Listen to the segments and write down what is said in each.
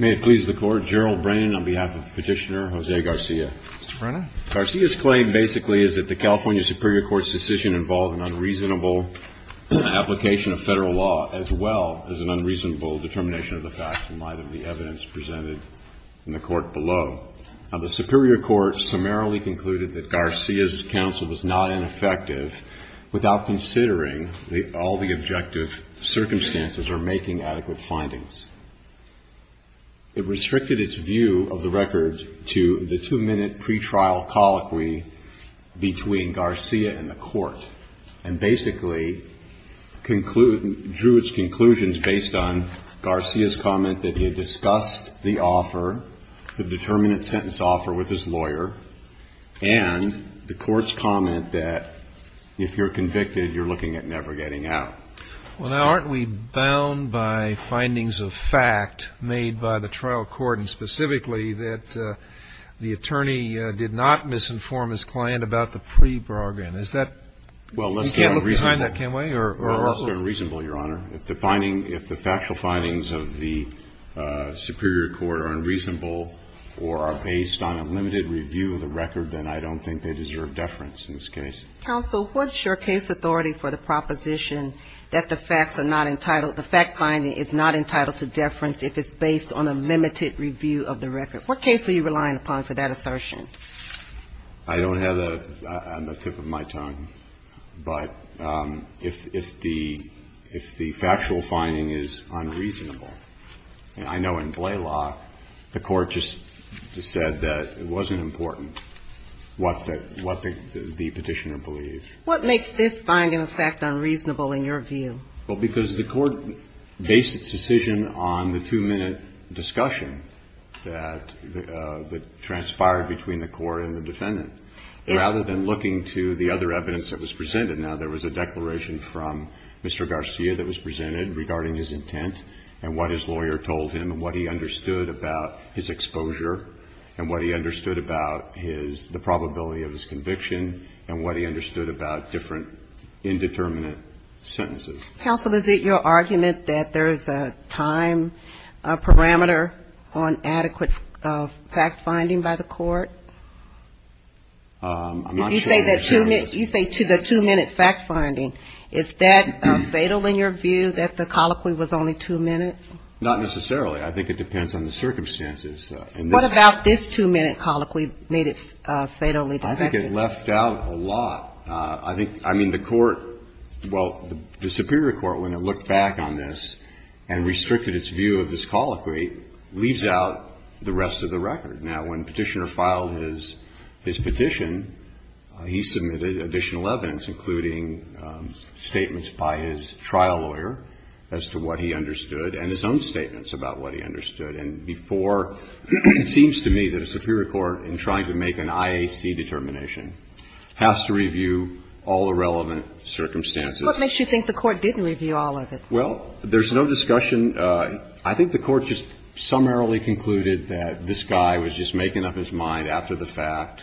May it please the Court, General Brannon on behalf of Petitioner Jose Garcia. Mr. Brannon. Garcia's claim basically is that the California Superior Court's decision involved an unreasonable application of federal law as well as an unreasonable determination of the facts in light of the evidence presented in the court below. Now, the Superior Court summarily concluded that Garcia's counsel was not ineffective without considering that all the objective circumstances are making adequate findings. It restricted its view of the record to the two-minute pretrial colloquy between Garcia and the court and basically drew its conclusions based on Garcia's comment that he had discussed the offer, the determinate sentence offer with his lawyer, and the court's comment that if you're convicted, you're looking at never getting out. Well, now, aren't we bound by findings of fact made by the trial court and specifically that the attorney did not misinform his client about the pre-bargain? Is that unreasonable? You can't look behind that, can we? If the factual findings of the Superior Court are unreasonable or are based on a limited review of the record, then I don't think they deserve deference in this case. Counsel, what's your case authority for the proposition that the facts are not entitled, the fact finding is not entitled to deference if it's based on a limited review of the record? What case are you relying upon for that assertion? I don't have that on the tip of my tongue. But if the factual finding is unreasonable, and I know in Blalock, the court just said that it wasn't important what the petitioner believed. What makes this finding of fact unreasonable in your view? Well, because the court based its decision on the two-minute discussion that transpired between the court and the defendant rather than looking to the other evidence that was presented. Now, there was a declaration from Mr. Garcia that was presented regarding his intent and what his lawyer told him and what he understood about his exposure and what he understood about the probability of his conviction and what he understood about different indeterminate sentences. Counsel, is it your argument that there is a time parameter on adequate fact finding by the court? I'm not sure. You say the two-minute fact finding. Is that fatal in your view that the colloquy was only two minutes? Not necessarily. I think it depends on the circumstances. What about this two-minute colloquy made it fatally defective? I think it left out a lot. I think, I mean, the court, well, the superior court, when it looked back on this and restricted its view of this colloquy, leaves out the rest of the record. Now, when the petitioner filed his petition, he submitted additional evidence, including statements by his trial lawyer as to what he understood and his own statements about what he understood. And before, it seems to me that a superior court, in trying to make an IAC determination, has to review all the relevant circumstances. What makes you think the court didn't review all of it? Well, there's no discussion. I think the court just summarily concluded that this guy was just making up his mind after the fact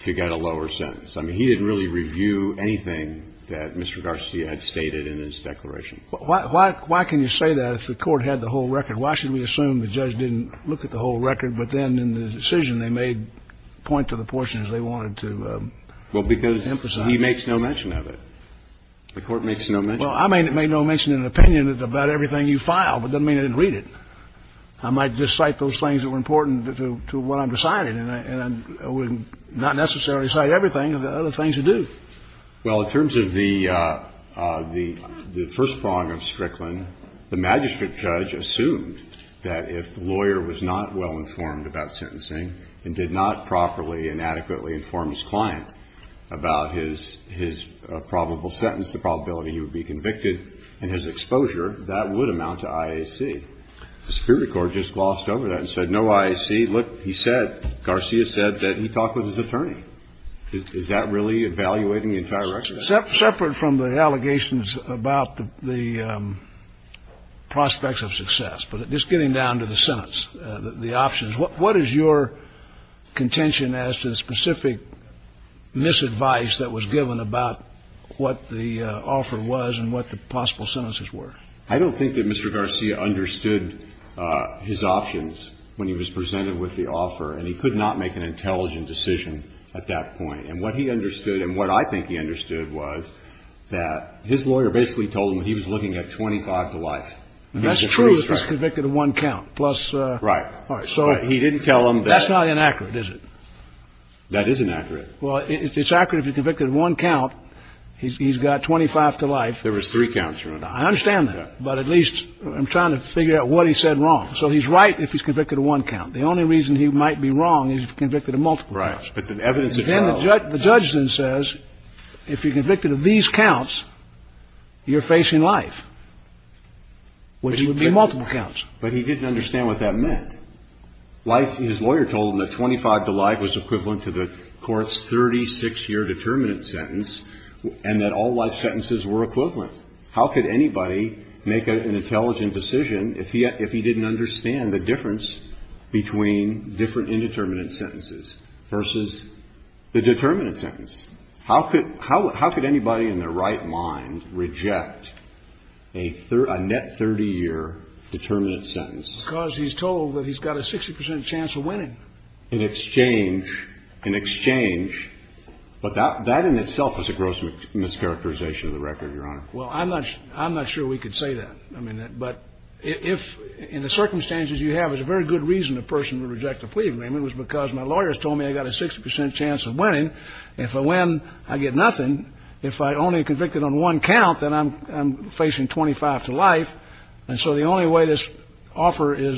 to get a lower sentence. I mean, he didn't really review anything that Mr. Garcia had stated in his declaration. Why can you say that if the court had the whole record? Why should we assume the judge didn't look at the whole record, but then in the decision they made point to the portions they wanted to emphasize? Well, because he makes no mention of it. The court makes no mention of it. Well, I made no mention in an opinion about everything you filed. It doesn't mean I didn't read it. I might just cite those things that were important to what I'm deciding, and I would not necessarily cite everything of the other things you do. Well, in terms of the first prong of Strickland, the magistrate judge assumed that if the lawyer was not well-informed about sentencing and did not properly and adequately inform his client about his probable sentence, the probability he would be convicted and his exposure, that would amount to IAC. The Superior Court just glossed over that and said, no, IAC. Look, he said, Garcia said that he talked with his attorney. Is that really evaluating the entire record? Separate from the allegations about the prospects of success, but just getting down to the sentence, the options, what is your contention as to the specific misadvice that was given about what the offer was and what the possible sentences were? I don't think that Mr. Garcia understood his options when he was presented with the offer, and he could not make an intelligent decision at that point. And what he understood, and what I think he understood, was that his lawyer basically told him he was looking at 25 to life. That's true if he's convicted of one count. Right. So he didn't tell him that. That's not inaccurate, is it? That is inaccurate. Well, it's accurate if he's convicted of one count. He's got 25 to life. There was three counts. I understand that. But at least I'm trying to figure out what he said wrong. So he's right if he's convicted of one count. The only reason he might be wrong is if he's convicted of multiple counts. Right. But the evidence of trial. The judge then says if you're convicted of these counts, you're facing life, which would be multiple counts. But he didn't understand what that meant. Life, his lawyer told him that 25 to life was equivalent to the Court's 36-year determinant sentence and that all life sentences were equivalent. How could anybody make an intelligent decision if he didn't understand the difference between different indeterminate sentences versus the determinant sentence? How could anybody in their right mind reject a net 30-year determinant sentence? Because he's told that he's got a 60 percent chance of winning. In exchange. In exchange. But that in itself is a gross mischaracterization of the record, Your Honor. Well, I'm not sure we could say that. I mean, but if in the circumstances you have, it's a very good reason a person would reject a plea agreement was because my lawyers told me I got a 60 percent chance of winning. If I win, I get nothing. If I only get convicted on one count, then I'm facing 25 to life. And so the only way this offer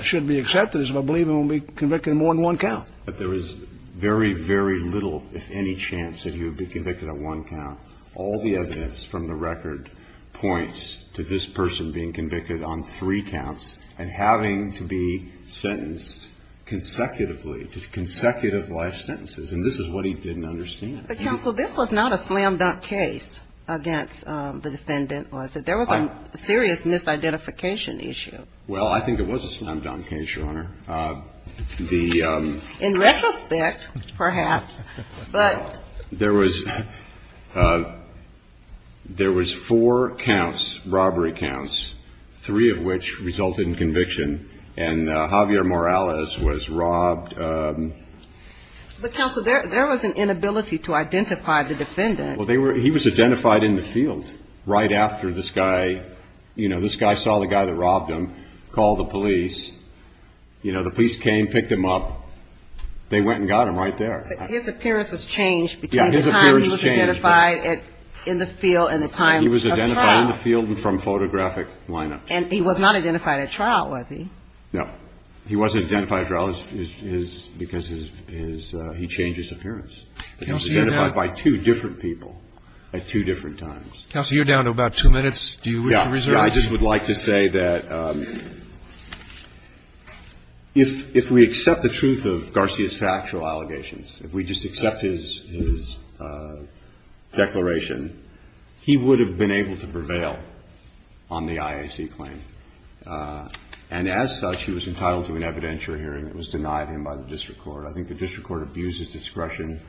should be accepted is if I believe I'm going to be convicted more than one count. But there is very, very little, if any, chance that he would be convicted on one count. All the evidence from the record points to this person being convicted on three counts and having to be sentenced consecutively to consecutive life sentences. And this is what he didn't understand. But, Counsel, this was not a slam-dunk case against the defendant, was it? There was a serious misidentification issue. Well, I think it was a slam-dunk case, Your Honor. In retrospect, perhaps. But there was four counts, robbery counts, three of which resulted in conviction, and Javier Morales was robbed. But, Counsel, there was an inability to identify the defendant. Well, he was identified in the field right after this guy, you know, this guy saw the guy that robbed him, called the police. You know, the police came, picked him up. They went and got him right there. But his appearance was changed between the time he was identified in the field and the time of trial. He was identified in the field and from photographic lineups. And he was not identified at trial, was he? No. He wasn't identified at trial because he changed his appearance. He was identified by two different people at two different times. Counsel, you're down to about two minutes. Do you wish to reserve it? I just would like to say that if we accept the truth of Garcia's factual allegations, if we just accept his declaration, he would have been able to prevail on the IAC claim. And as such, he was entitled to an evidentiary hearing. It was denied him by the district court. I think the district court abused his discretion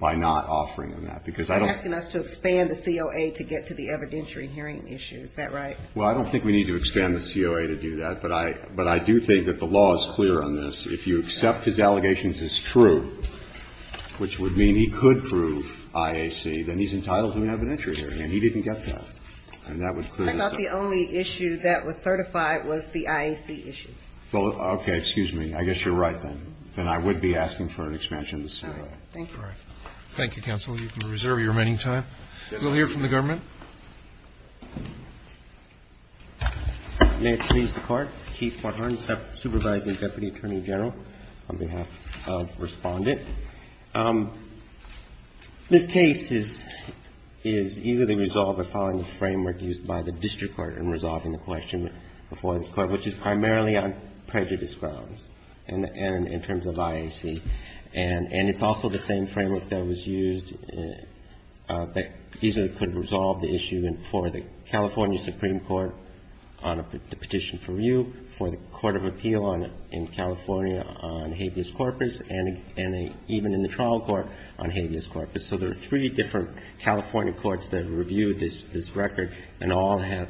by not offering him that. Because I don't... They're asking us to expand the COA to get to the evidentiary hearing issue. Is that right? Well, I don't think we need to expand the COA to do that. But I do think that the law is clear on this. If you accept his allegations as true, which would mean he could prove IAC, then he's entitled to an evidentiary hearing. And he didn't get that. And that would... I thought the only issue that was certified was the IAC issue. Okay. Excuse me. I guess you're right then. Then I would be asking for an expansion of the COA. Thank you. Thank you, Counsel. You can reserve your remaining time. We'll hear from the government. Thank you. May it please the Court. Keith Barhan, Supervising Deputy Attorney General, on behalf of Respondent. This case is easily resolved by following the framework used by the district court in resolving the question before this Court, which is primarily on prejudice grounds and in terms of IAC. And it's also the same framework that was used that easily could resolve the issue for the California Supreme Court on a petition for review, for the Court of Appeal in California on habeas corpus, and even in the trial court on habeas corpus. So there are three different California courts that reviewed this record and all have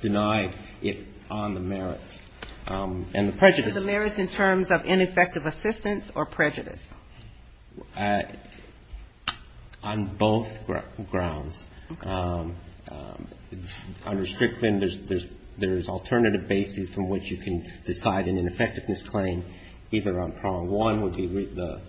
denied it on the merits. And the prejudice... Yes, Your Honor. ...claim is either on effective assistance or prejudice. On both grounds. Okay. Under Strickland, there's alternative basis from which you can decide an ineffectiveness claim either on prong one, which would be the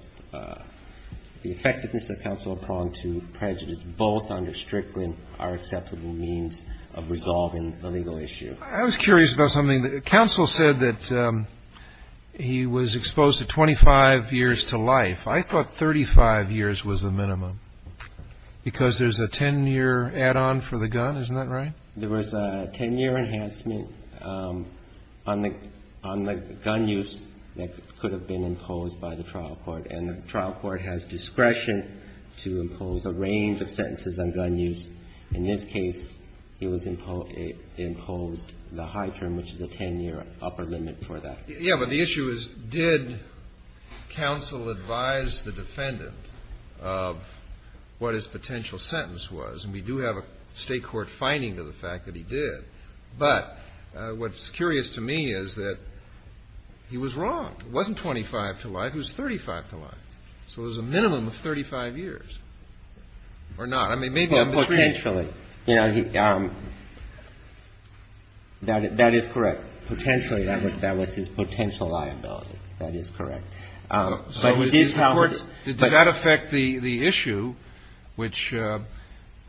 effectiveness of counsel on prong two, prejudice, both under Strickland are acceptable means of resolving the legal issue. I was curious about something. Counsel said that he was exposed to 25 years to life. I thought 35 years was the minimum because there's a 10-year add-on for the gun. Isn't that right? There was a 10-year enhancement on the gun use that could have been imposed by the trial court. And the trial court has discretion to impose a range of sentences on gun use. In this case, it was imposed the high term, which is a 10-year upper limit for that. Yeah. But the issue is did counsel advise the defendant of what his potential sentence was? And we do have a State court finding to the fact that he did. But what's curious to me is that he was wrong. It wasn't 25 to life. It was 35 to life. So it was a minimum of 35 years. Or not. I mean, maybe I'm misreading it. Yeah, potentially. That is correct. Potentially, that was his potential liability. That is correct. But he did tell us. So does that affect the issue which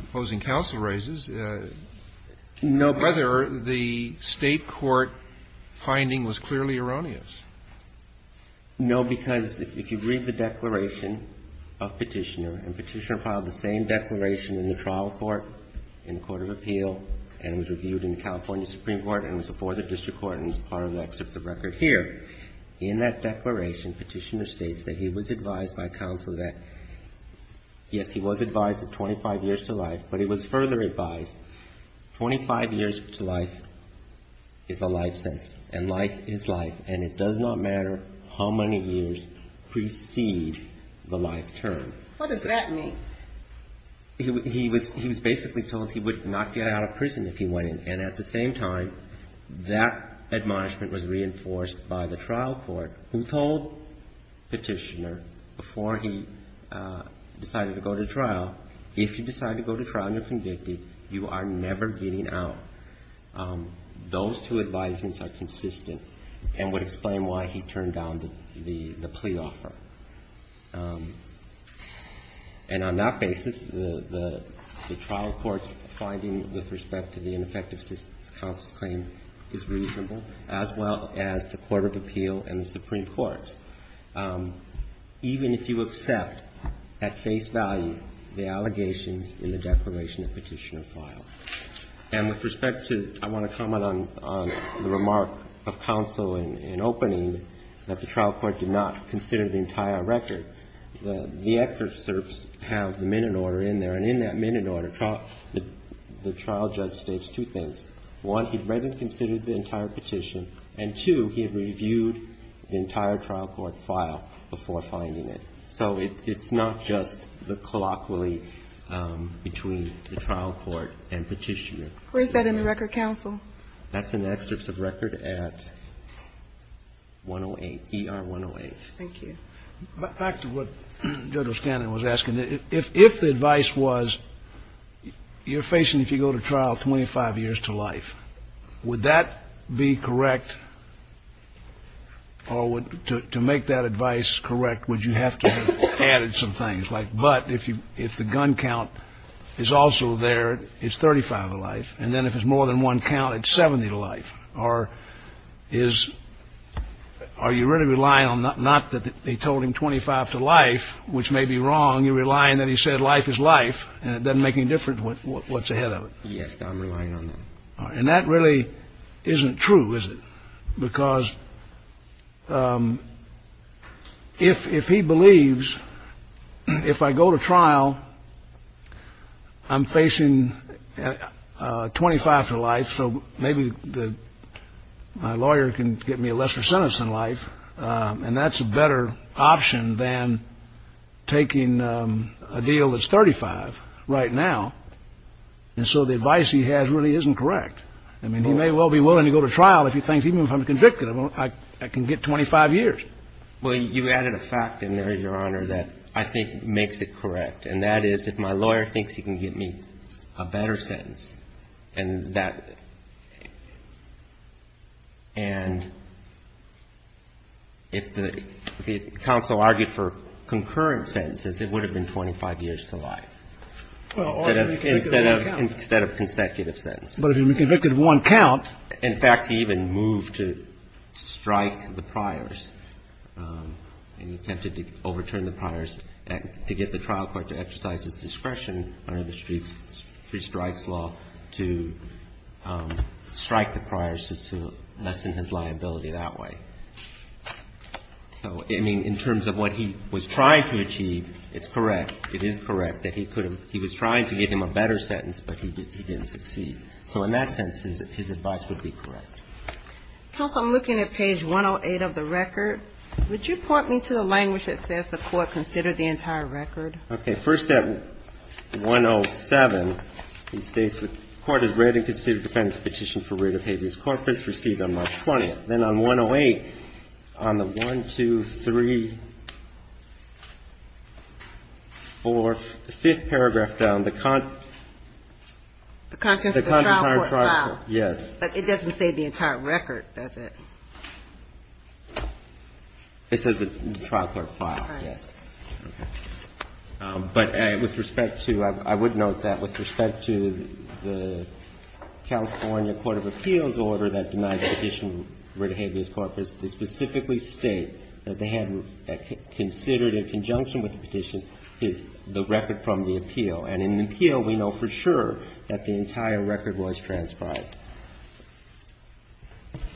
opposing counsel raises? No. Whether the State court finding was clearly erroneous. No, because if you read the declaration of Petitioner, and Petitioner filed the same declaration in the trial court, in the Court of Appeal, and was reviewed in the California Supreme Court, and was before the district court, and is part of the excerpts of record here, in that declaration, Petitioner states that he was advised by counsel that, yes, he was advised of 25 years to life, but he was further advised 25 years to life is a life sentence, and life is life, and it does not matter how many years precede the life term. What does that mean? He was basically told he would not get out of prison if he went in, and at the same time, that admonishment was reinforced by the trial court, who told Petitioner before he decided to go to trial, if you decide to go to trial and you're convicted, you are never getting out. Those two advisements are consistent and would explain why he turned down the plea offer. And on that basis, the trial court's finding with respect to the ineffective assistance counsel claim is reasonable, as well as the Court of Appeal and the Supreme Court's, even if you accept at face value the allegations in the declaration that Petitioner filed. And with respect to the – I want to comment on the remark of counsel in opening that the trial court did not consider the entire record. The excerpts have the minute order in there, and in that minute order, the trial judge states two things. One, he'd read and considered the entire petition, and two, he had reviewed the entire trial court file before finding it. So it's not just the colloquially between the trial court and Petitioner. Where is that in the record, counsel? That's in the excerpts of record at 108, ER 108. Thank you. Back to what Judge O'Stanley was asking. If the advice was you're facing, if you go to trial, 25 years to life, would that be correct? Or to make that advice correct, would you have to have added some things? Like, but if the gun count is also there, it's 35 a life, and then if it's more than one count, it's 70 to life. Or is – are you really relying on – not that they told him 25 to life, which may be wrong. You're relying that he said life is life, and it doesn't make any difference what's ahead of it. Yes, I'm relying on that. All right. And that really isn't true, is it? Because if he believes if I go to trial, I'm facing 25 to life, so maybe my lawyer can get me a lesser sentence than life. And that's a better option than taking a deal that's 35 right now. And so the advice he has really isn't correct. I mean, he may well be willing to go to trial if he thinks even if I'm convicted, I can get 25 years. Well, you added a fact in there, Your Honor, that I think makes it correct, and that is if my lawyer thinks he can get me a better sentence, and that – and if the counsel argued for concurrent sentences, it would have been 25 years to life instead of consecutive sentences. But if you're convicted of one count – In fact, he even moved to strike the priors, and he attempted to overturn the priors to get the trial court to exercise its discretion under the three strikes law to strike the priors to lessen his liability that way. So, I mean, in terms of what he was trying to achieve, it's correct. It is correct that he could have – he was trying to get him a better sentence, but he didn't succeed. So in that sense, his advice would be correct. Counsel, I'm looking at page 108 of the record. Would you point me to the language that says the Court considered the entire record? Okay. First at 107, it states the Court has read and considered the defendant's petition for writ of habeas corpus, received on March 20th. Then on 108, on the 1, 2, 3, 4, 5th paragraph down, the – The contents of the trial court file. Yes. But it doesn't say the entire record, does it? It says the trial court file, yes. Right. Okay. But with respect to – I would note that with respect to the California Court of Appeals order that denied the petition for writ of habeas corpus, they specifically state that they had considered in conjunction with the petition the record from the appeal. And in the appeal, we know for sure that the entire record was transcribed.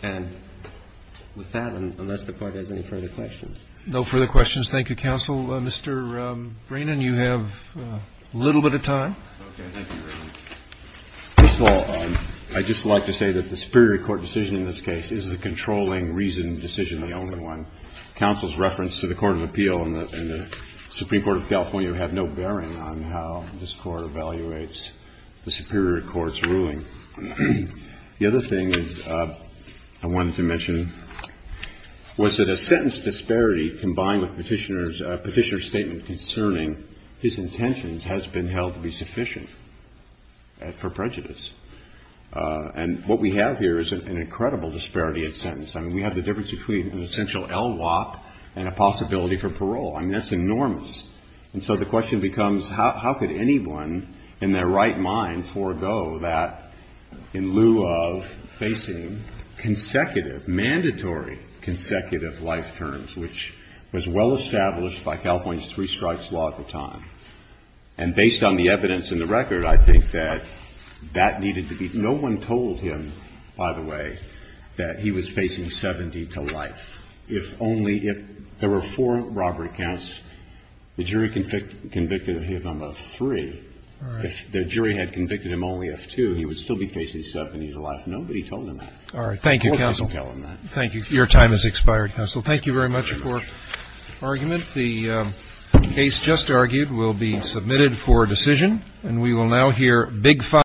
And with that, unless the Court has any further questions. No further questions. Thank you, Counsel. Mr. Breenan, you have a little bit of time. Okay. Thank you, Your Honor. First of all, I'd just like to say that the superior court decision in this case is the controlling reason decision, the only one. Counsel's reference to the Court of Appeal and the Supreme Court of California have no bearing on how this Court evaluates the superior court's ruling. The other thing I wanted to mention was that a sentence disparity combined with Petitioner's statement concerning his intentions has been held to be sufficient. For prejudice. And what we have here is an incredible disparity in sentence. I mean, we have the difference between an essential LWOP and a possibility for parole. I mean, that's enormous. And so the question becomes, how could anyone in their right mind forego that in lieu of facing consecutive, mandatory consecutive life terms, which was well established by California's three strikes law at the time. And based on the evidence in the record, I think that that needed to be no one told him, by the way, that he was facing 70 to life. If only if there were four robbery counts, the jury convicted him of three. If the jury had convicted him only of two, he would still be facing 70 to life. Nobody told him that. All right. Thank you, counsel. Thank you. Your time has expired, counsel. Thank you very much for your argument. The case just argued will be submitted for decision. And we will now hear big five.